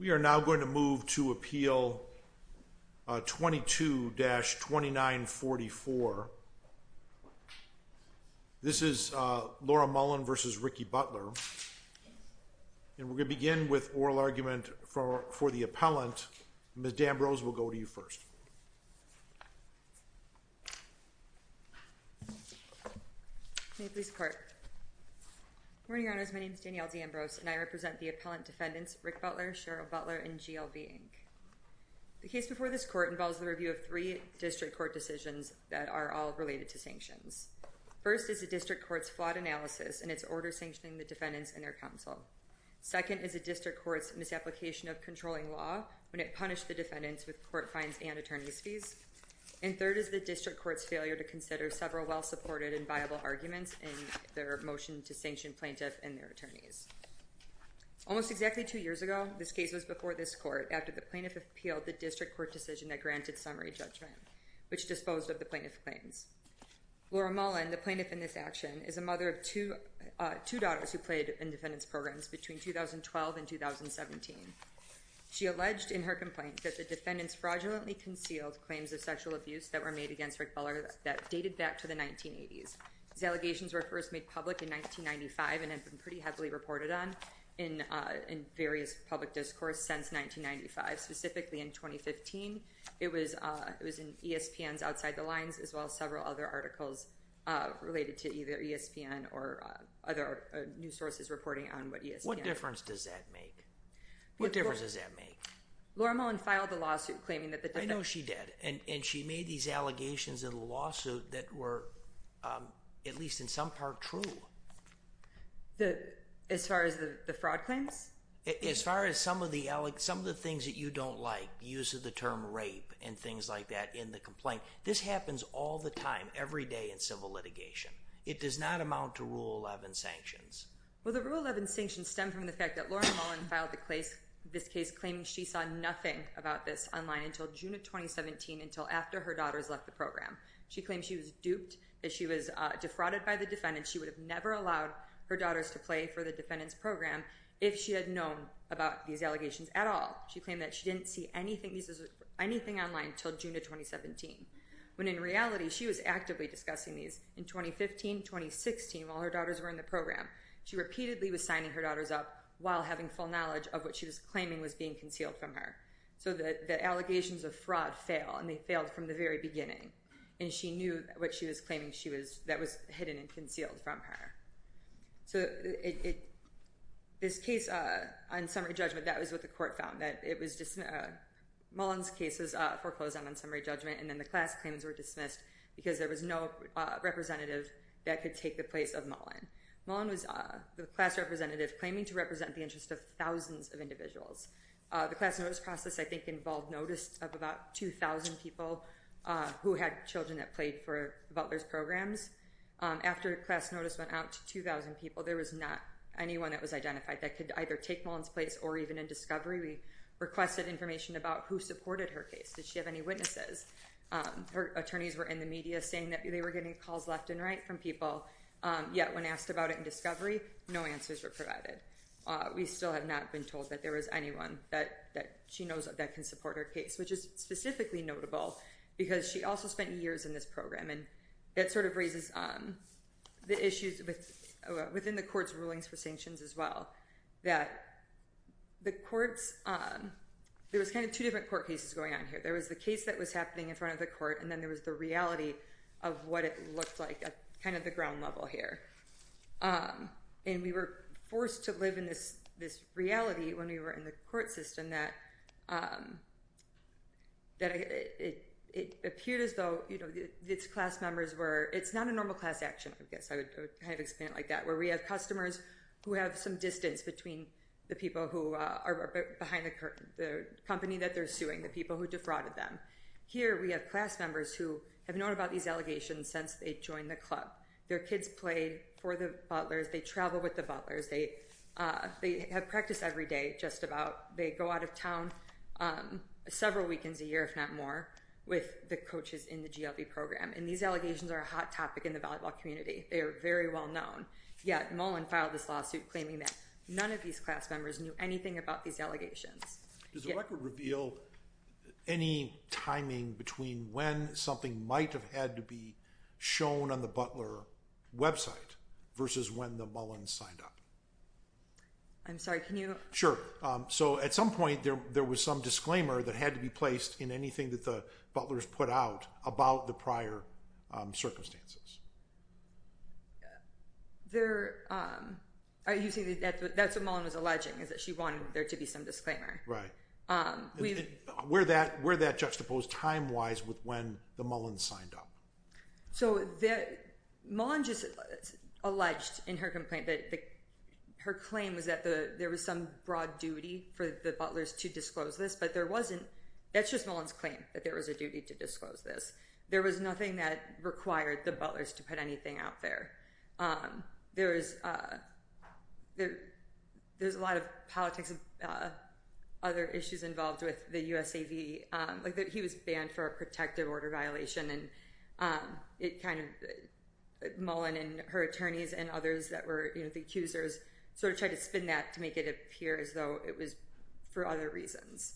We are now going to move to appeal 22-2944. This is Laura Mullen v. Ricky Butler. And we're going to begin with oral argument for the appellant. Ms. D'Ambrose will go to you first. May it please the Court. Good morning, Your Honors. My name is Danielle D'Ambrose, and I represent the appellant defendants Rick Butler, Cheryl Butler, and GLB, Inc. The case before this Court involves the review of three district court decisions that are all related to sanctions. First is the district court's flawed analysis and its order sanctioning the defendants and their counsel. Second is the district court's misapplication of controlling law when it punished the defendants with court fines and attorney's fees. And third is the district court's failure to consider several well-supported and viable arguments in their motion to sanction plaintiff and their attorneys. Almost exactly two years ago, this case was before this Court after the plaintiff appealed the district court decision that granted summary judgment, which disposed of the plaintiff's claims. Laura Mullen, the plaintiff in this action, is a mother of two daughters who played in defendants' programs between 2012 and 2017. She alleged in her complaint that the defendants fraudulently concealed claims of sexual abuse that were made against Rick Butler that dated back to the 1980s. These allegations were first made public in 1995 and have been pretty heavily reported on in various public discourse since 1995. Specifically in 2015, it was in ESPN's Outside the Lines as well as several other articles related to either ESPN or other news sources reporting on what ESPN... What difference does that make? What difference does that make? Laura Mullen filed a lawsuit claiming that the defendants... I know she did. And she made these allegations in the lawsuit that were, at least in some part, true. As far as the fraud claims? As far as some of the things that you don't like, the use of the term rape and things like that in the complaint, this happens all the time, every day in civil litigation. It does not amount to Rule 11 sanctions. Well, the Rule 11 sanctions stem from the fact that Laura Mullen filed this case claiming she saw nothing about this online until June of 2017, until after her daughters left the program. She claimed she was duped, that she was defrauded by the defendants. She would have never allowed her daughters to play for the defendants program if she had known about these allegations at all. She claimed that she didn't see anything online until June of 2017, when in reality she was actively discussing these in 2015, 2016 while her daughters were in the program. She repeatedly was signing her daughters up while having full knowledge of what she was claiming was being concealed from her. So the allegations of fraud fail, and they failed from the very beginning. And she knew what she was claiming that was hidden and concealed from her. So this case on summary judgment, that was what the court found. Mullen's case was foreclosed on on summary judgment, and then the class claims were dismissed because there was no representative that could take the place of Mullen. Mullen was the class representative claiming to represent the interests of thousands of individuals. The class notice process, I think, involved notice of about 2,000 people who had children that played for Butler's programs. After class notice went out to 2,000 people, there was not anyone that was identified that could either take Mullen's place or even in discovery. We requested information about who supported her case. Did she have any witnesses? Her attorneys were in the media saying that they were getting calls left and right from people. Yet when asked about it in discovery, no answers were provided. We still have not been told that there was anyone that she knows that can support her case, which is specifically notable because she also spent years in this program. And that sort of raises the issues within the court's rulings for sanctions as well. There was kind of two different court cases going on here. There was the case that was happening in front of the court, and then there was the reality of what it looked like at kind of the ground level here. And we were forced to live in this reality when we were in the court system that it appeared as though these class members were—it's not a normal class action, I guess. I would kind of explain it like that, where we have customers who have some distance between the people who are behind the company that they're suing, the people who defrauded them. Here we have class members who have known about these allegations since they joined the club. Their kids played for the Butlers. They travel with the Butlers. They have practice every day, just about. They go out of town several weekends a year, if not more, with the coaches in the GLB program. And these allegations are a hot topic in the volleyball community. They are very well known. Yet Mullen filed this lawsuit claiming that none of these class members knew anything about these allegations. Does the record reveal any timing between when something might have had to be shown on the Butler website versus when the Mullens signed up? I'm sorry, can you— Sure. So at some point there was some disclaimer that had to be placed in anything that the Butlers put out about the prior circumstances. That's what Mullen was alleging, is that she wanted there to be some disclaimer. Right. Were that juxtaposed time-wise with when the Mullens signed up? So Mullen just alleged in her complaint that her claim was that there was some broad duty for the Butlers to disclose this, but there wasn't. That's just Mullen's claim, that there was a duty to disclose this. There was nothing that required the Butlers to put anything out there. There's a lot of politics and other issues involved with the USAV, like that he was banned for a protective order violation. And it kind of—Mullen and her attorneys and others that were the accusers sort of tried to spin that to make it appear as though it was for other reasons.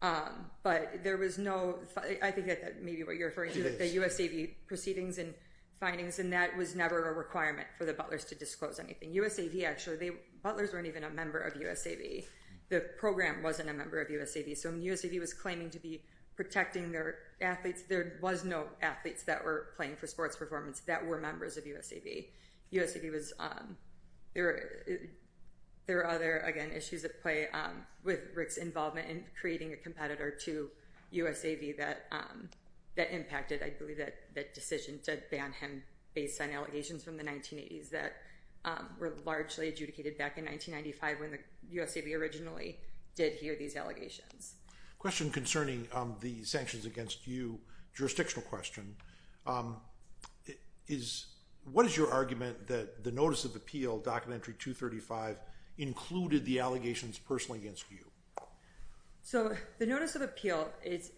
But there was no—I think that may be what you're referring to, the USAV proceedings and findings, and that was never a requirement for the Butlers to disclose anything. USAV actually—the Butlers weren't even a member of USAV. The program wasn't a member of USAV. So when USAV was claiming to be protecting their athletes, there was no athletes that were playing for sports performance that were members of USAV. There were other, again, issues at play with Rick's involvement in creating a competitor to USAV that impacted, I believe, that decision to ban him based on allegations from the 1980s that were largely adjudicated back in 1995 when the USAV originally did hear these allegations. Question concerning the sanctions against you jurisdictional question. What is your argument that the Notice of Appeal, Documentary 235, included the allegations personally against you? So the Notice of Appeal, it's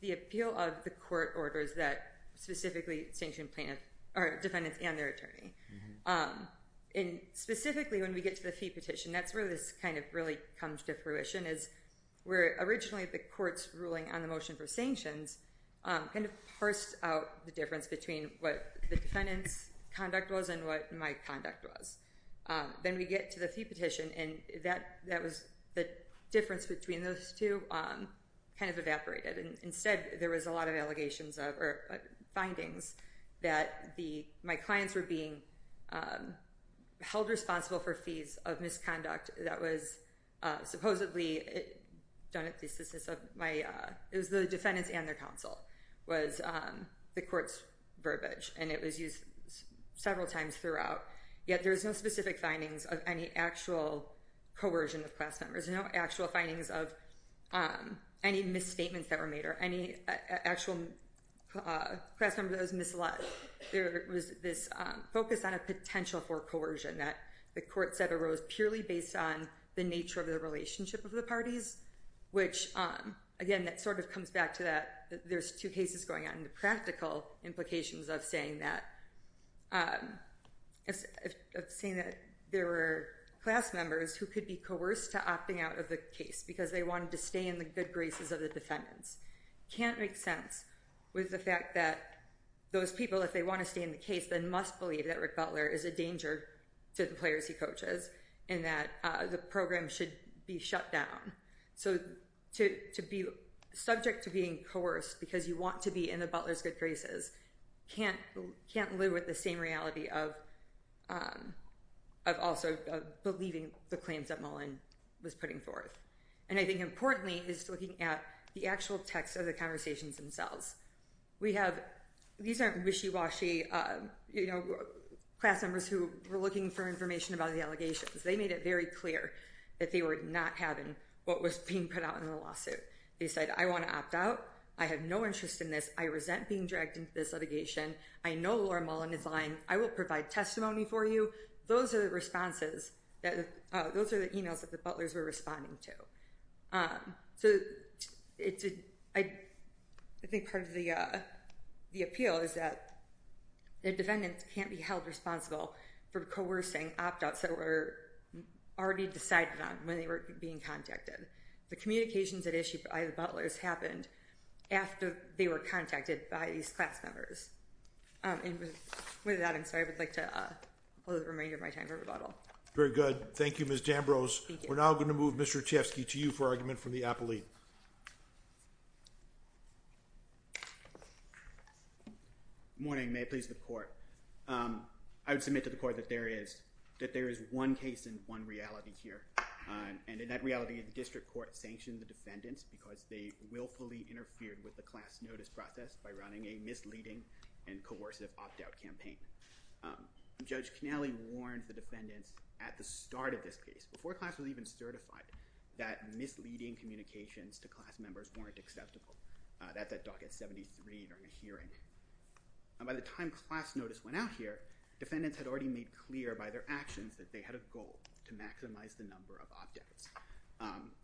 the appeal of the court orders that specifically sanction plaintiffs—or defendants and their attorney. And specifically when we get to the fee petition, that's where this kind of really comes to fruition, is where originally the court's ruling on the motion for sanctions kind of parsed out the difference between what the defendant's conduct was and what my conduct was. Then we get to the fee petition, and that was—the difference between those two kind of evaporated. Instead, there was a lot of allegations of—or findings that my clients were being held responsible for fees of misconduct that was supposedly done at the assistance of my— it was the defendant's and their counsel was the court's verbiage, and it was used several times throughout. Yet there's no specific findings of any actual coercion of class members, no actual findings of any misstatements that were made or any actual class member that was misled. There was this focus on a potential for coercion that the court said arose purely based on the nature of the relationship of the parties, which, again, that sort of comes back to that. There's two cases going on, and the practical implications of saying that there were class members who could be coerced to opting out of the case because they wanted to stay in the good graces of the defendants can't make sense with the fact that those people, if they want to stay in the case, then must believe that Rick Butler is a danger to the players he coaches and that the program should be shut down. So to be subject to being coerced because you want to be in the Butler's good graces can't live with the same reality of also believing the claims that Mullen was putting forth. And I think importantly is looking at the actual text of the conversations themselves. These aren't wishy-washy class members who were looking for information about the allegations. They made it very clear that they were not having what was being put out in the lawsuit. They said, I want to opt out. I have no interest in this. I resent being dragged into this litigation. I know Laura Mullen is lying. I will provide testimony for you. Those are the responses. Those are the emails that the Butlers were responding to. So I think part of the appeal is that the defendants can't be held responsible for coercing opt-outs that were already decided on when they were being contacted. The communications at issue by the Butlers happened after they were contacted by these class members. And with that, I'm sorry. I would like to close the remainder of my time for rebuttal. Very good. Thank you, Ms. Dambrose. We're now going to move Mr. Chesky to you for argument from the appellee. Good morning. May it please the court. I would submit to the court that there is one case and one reality here. And in that reality, the district court sanctioned the defendants because they willfully interfered with the class notice process by running a misleading and coercive opt-out campaign. Judge Cannelli warned the defendants at the start of this case, before class was even certified, that misleading communications to class members weren't acceptable. That's at docket 73 during a hearing. And by the time class notice went out here, defendants had already made clear by their actions that they had a goal to maximize the number of opt-outs.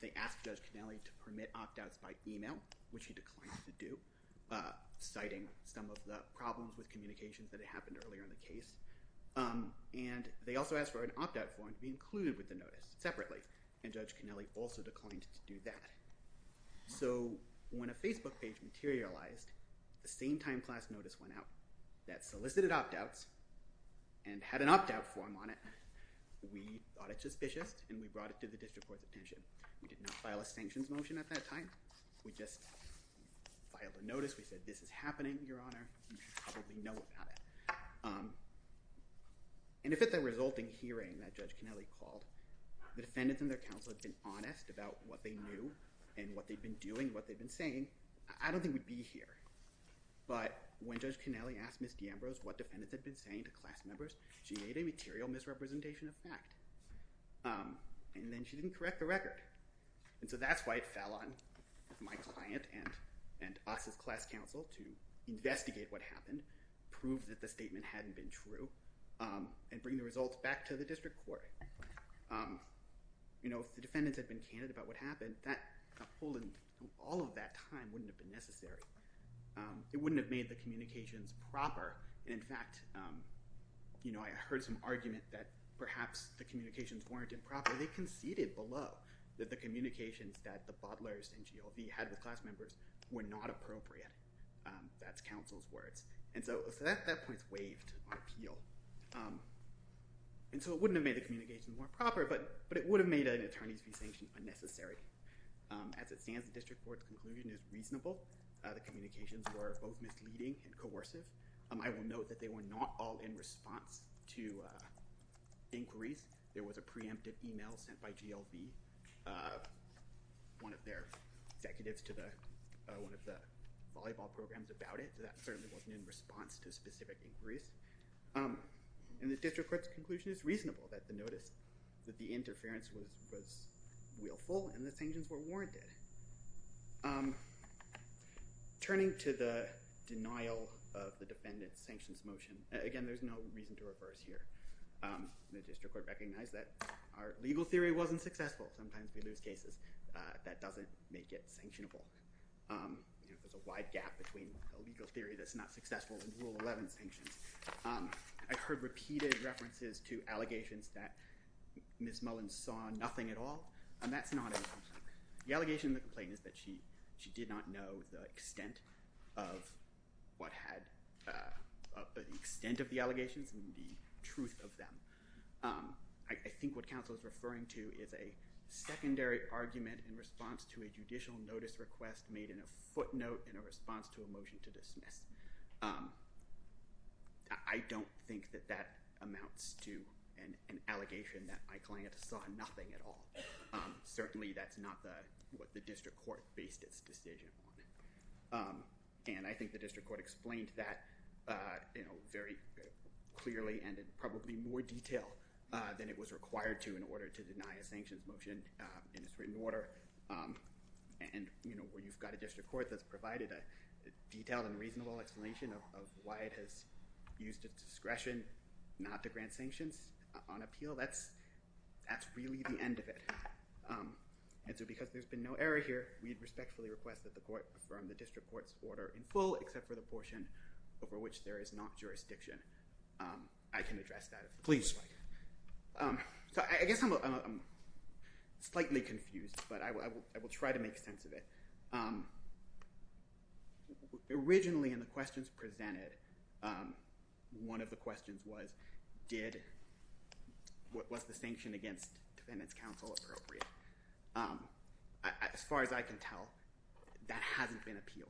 They asked Judge Cannelli to permit opt-outs by email, which he declined to do, citing some of the problems with communications that had happened earlier in the case. And they also asked for an opt-out form to be included with the notice separately, and Judge Cannelli also declined to do that. So when a Facebook page materialized the same time class notice went out that solicited opt-outs and had an opt-out form on it, we thought it suspicious, and we brought it to the district court's attention. We did not file a sanctions motion at that time. We just filed a notice. We said, this is happening, Your Honor. You should probably know about it. And if at the resulting hearing that Judge Cannelli called, the defendants and their counsel had been honest about what they knew and what they'd been doing, what they'd been saying, I don't think we'd be here. But when Judge Cannelli asked Ms. DeAmbrose what defendants had been saying to class members, she made a material misrepresentation of fact. And then she didn't correct the record. And so that's why it fell on my client and us as class counsel to investigate what happened, prove that the statement hadn't been true, and bring the results back to the district court. If the defendants had been candid about what happened, a pull in all of that time wouldn't have been necessary. It wouldn't have made the communications proper. And in fact, I heard some argument that perhaps the communications weren't improper. They conceded below that the communications that the Butlers and GLV had with class members were not appropriate. That's counsel's words. And so that point's waived on appeal. And so it wouldn't have made the communications more proper, but it would have made an attorney's fee sanction unnecessary. As it stands, the district court's conclusion is reasonable. The communications were both misleading and coercive. I will note that they were not all in response to inquiries. There was a preemptive email sent by GLV, one of their executives to one of the volleyball programs about it. That certainly wasn't in response to specific inquiries. And the district court's conclusion is reasonable, that the notice, that the interference was willful and the sanctions were warranted. Turning to the denial of the defendant's sanctions motion, again, there's no reason to reverse here. The district court recognized that our legal theory wasn't successful. Sometimes we lose cases. That doesn't make it sanctionable. There's a wide gap between a legal theory that's not successful and Rule 11 sanctions. I've heard repeated references to allegations that Ms. Mullins saw nothing at all, and that's not in the complaint. The allegation in the complaint is that she did not know the extent of what had, the extent of the allegations and the truth of them. I think what counsel is referring to is a secondary argument in response to a judicial notice request made in a footnote in a response to a motion to dismiss. I don't think that that amounts to an allegation that my client saw nothing at all. Certainly, that's not what the district court based its decision on. I think the district court explained that very clearly and in probably more detail than it was required to in order to deny a sanctions motion in its written order. Where you've got a district court that's provided a detailed and reasonable explanation of why it has used its discretion not to grant sanctions on appeal, that's really the end of it. Because there's been no error here, we'd respectfully request that the court affirm the district court's order in full except for the portion over which there is not jurisdiction. I can address that if the court would like. Please. I guess I'm slightly confused, but I will try to make sense of it. Originally, in the questions presented, one of the questions was, was the sanction against defendants counsel appropriate? As far as I can tell, that hasn't been appealed.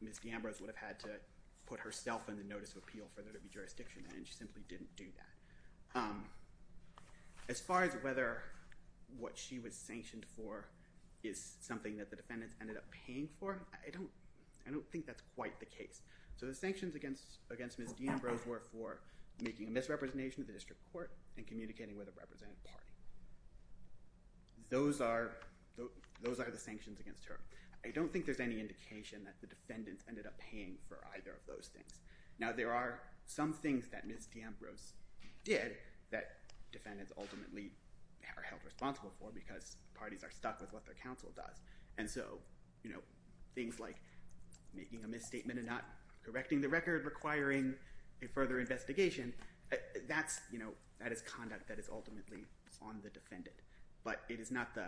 Ms. D'Ambros would have had to put herself in the notice of appeal for there to be jurisdiction, and she simply didn't do that. As far as whether what she was sanctioned for is something that the defendants ended up paying for, I don't think that's quite the case. So the sanctions against Ms. D'Ambros were for making a misrepresentation of the district court and communicating with a representative party. Those are the sanctions against her. I don't think there's any indication that the defendants ended up paying for either of those things. Now, there are some things that Ms. D'Ambros did that defendants ultimately are held responsible for because parties are stuck with what their counsel does. And so things like making a misstatement and not correcting the record, requiring a further investigation, that is conduct that is ultimately on the defendant. But it is not the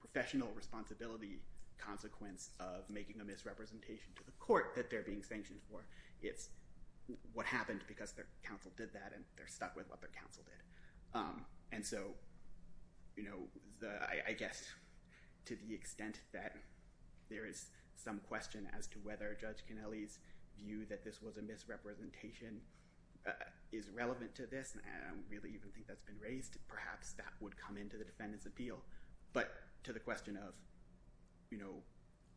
professional responsibility consequence of making a misrepresentation to the court that they're being sanctioned for. It's what happened because their counsel did that, and they're stuck with what their counsel did. And so I guess to the extent that there is some question as to whether Judge Kennelly's view that this was a misrepresentation is relevant to this, and I don't really even think that's been raised, perhaps that would come into the defendant's appeal. But to the question of, you know,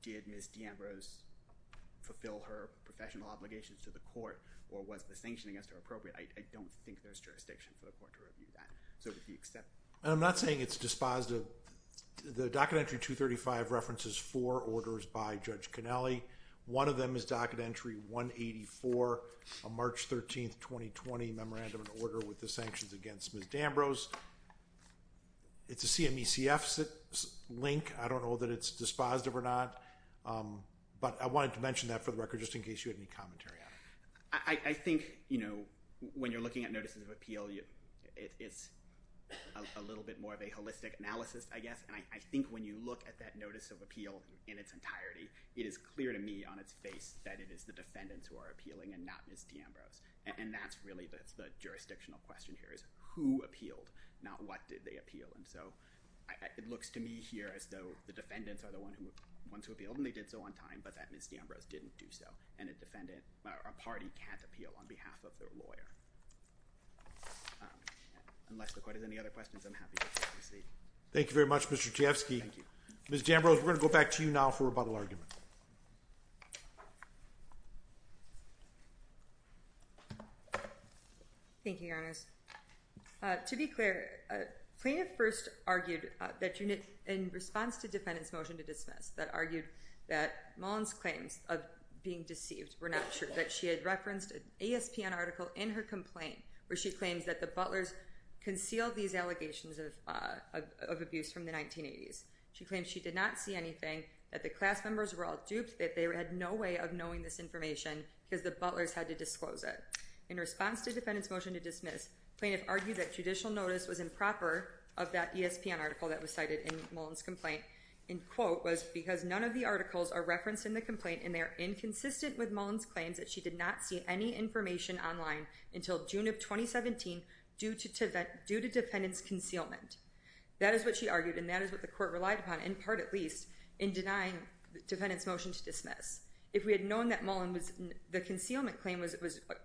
did Ms. D'Ambros fulfill her professional obligations to the court, or was the sanction against her appropriate? I don't think there's jurisdiction for the court to review that. And I'm not saying it's dispositive. The docket entry 235 references four orders by Judge Kennelly. One of them is docket entry 184, a March 13, 2020 memorandum of order with the sanctions against Ms. D'Ambros. It's a CMECF link. I don't know that it's dispositive or not. But I wanted to mention that for the record just in case you had any commentary on it. I think, you know, when you're looking at notices of appeal, it's a little bit more of a holistic analysis, I guess. And I think when you look at that notice of appeal in its entirety, it is clear to me on its face that it is the defendants who are appealing and not Ms. D'Ambros. And that's really the jurisdictional question here is who appealed, not what did they appeal. And so it looks to me here as though the defendants are the ones who appealed, and they did so on time, but that Ms. D'Ambros didn't do so. And a defendant or a party can't appeal on behalf of their lawyer. Unless the court has any other questions, I'm happy to proceed. Thank you very much, Mr. Tiefsky. Thank you. Ms. D'Ambros, we're going to go back to you now for rebuttal argument. Thank you, Your Honors. To be clear, plaintiff first argued that in response to defendant's motion to dismiss, that argued that Mullen's claims of being deceived were not true, that she had referenced an ASPN article in her complaint where she claims that the Butlers concealed these allegations of abuse from the 1980s. She claims she did not see anything, that the class members were all duped, that they had no way of knowing this information because the Butlers had to disclose it. In response to defendant's motion to dismiss, plaintiff argued that judicial notice was improper of that ASPN article that was cited in Mullen's complaint. In quote, was because none of the articles are referenced in the complaint and they are inconsistent with Mullen's claims that she did not see any information online until June of 2017 due to defendant's concealment. That is what she argued and that is what the court relied upon, in part at least, in denying defendant's motion to dismiss. If we had known that Mullen's concealment claim was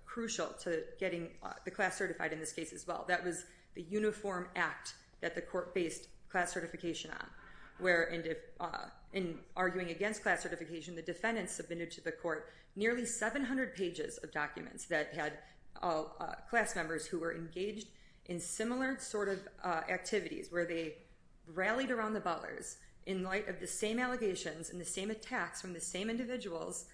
crucial to getting the class certified in this case as well, that was the uniform act that the court based class certification on. In arguing against class certification, the defendants submitted to the court nearly 700 pages of documents that had class members who were engaged in similar sort of activities, where they rallied around the Butlers in light of the same allegations and the same attacks from the same individuals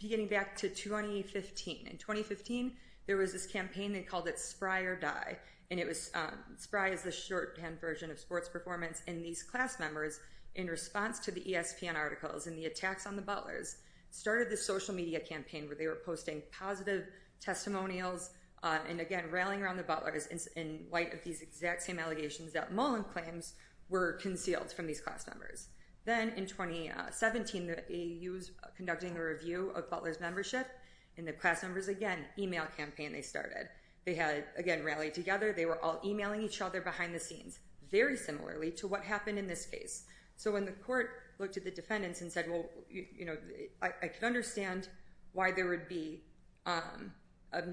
beginning back to 2015. In 2015, there was this campaign, they called it Spry or Die, and Spry is the shorthand version of sports performance and these class members, in response to the ASPN articles and the attacks on the Butlers, started this social media campaign where they were posting positive testimonials and again rallying around the Butlers in light of these exact same allegations that Mullen claims were concealed from these class members. Then in 2017, the AU was conducting a review of Butler's membership and the class members, again, email campaign they started. They had, again, rallied together, they were all emailing each other behind the scenes, very similarly to what happened in this case. So when the court looked at the defendants and said, well, I can understand why there would be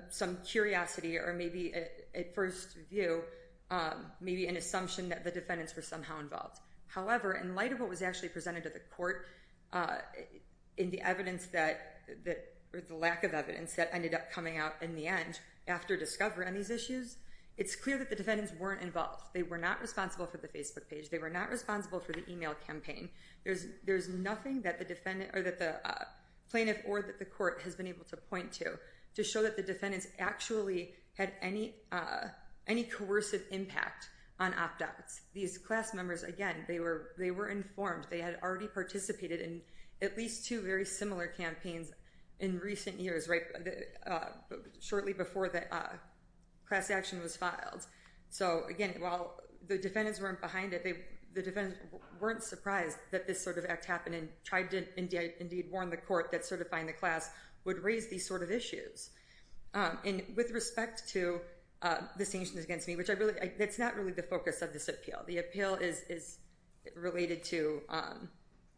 some curiosity or maybe at first view, maybe an assumption that the defendants were somehow involved. However, in light of what was actually presented to the court in the lack of evidence that ended up coming out in the end after discovery on these issues, it's clear that the defendants weren't involved. They were not responsible for the Facebook page. They were not responsible for the email campaign. There's nothing that the plaintiff or that the court has been able to point to to show that the defendants actually had any coercive impact on opt-outs. These class members, again, they were informed. They had already participated in at least two very similar campaigns in recent years, shortly before the class action was filed. So again, while the defendants weren't behind it, the defendants weren't surprised that this sort of act happened and tried to indeed warn the court that certifying the class would raise these sort of issues. And with respect to the sanctions against me, that's not really the focus of this appeal. The appeal is related to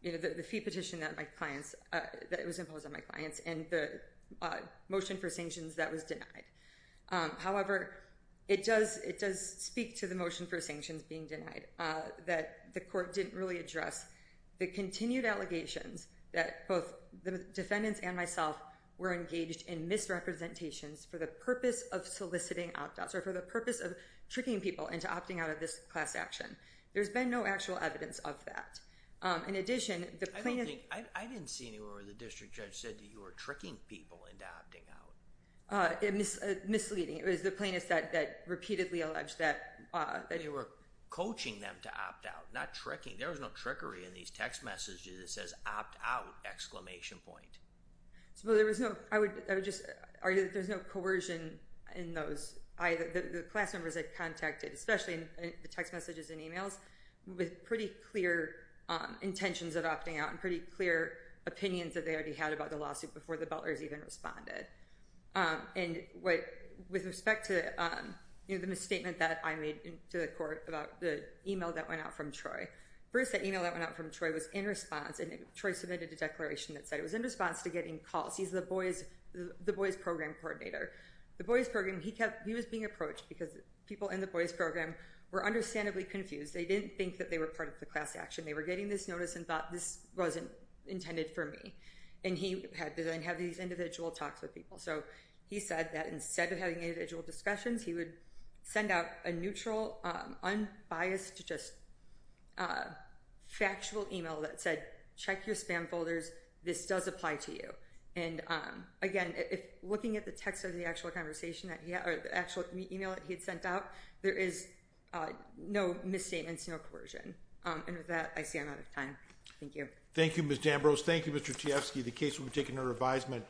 the fee petition that was imposed on my clients and the motion for sanctions that was denied. However, it does speak to the motion for sanctions being denied, that the court didn't really address the continued allegations that both the defendants and myself were engaged in misrepresentations for the purpose of soliciting opt-outs or for the purpose of tricking people into opting out of this class action. There's been no actual evidence of that. In addition, the plaintiff— I don't think—I didn't see anywhere where the district judge said that you were tricking people into opting out. Misleading. It was the plaintiff that repeatedly alleged that— That you were coaching them to opt out, not tricking. There was no trickery in these text messages that says, opt out! Well, there was no—I would just argue that there's no coercion in those. The class members had contacted, especially in the text messages and emails, with pretty clear intentions of opting out and pretty clear opinions that they already had about the lawsuit before the butlers even responded. And with respect to the misstatement that I made to the court about the email that went out from Troy. First, that email that went out from Troy was in response, and Troy submitted a declaration that said it was in response to getting calls. He's the boys' program coordinator. The boys' program—he was being approached because people in the boys' program were understandably confused. They didn't think that they were part of the class action. They were getting this notice and thought, this wasn't intended for me. And he had to then have these individual talks with people. So he said that instead of having individual discussions, he would send out a neutral, unbiased, just factual email that said, check your spam folders. This does apply to you. And again, looking at the text of the actual email that he had sent out, there is no misstatements, no coercion. And with that, I see I'm out of time. Thank you. Thank you, Ms. Dambrose. Thank you, Mr. Tiefsky. The case will be taken under advisement.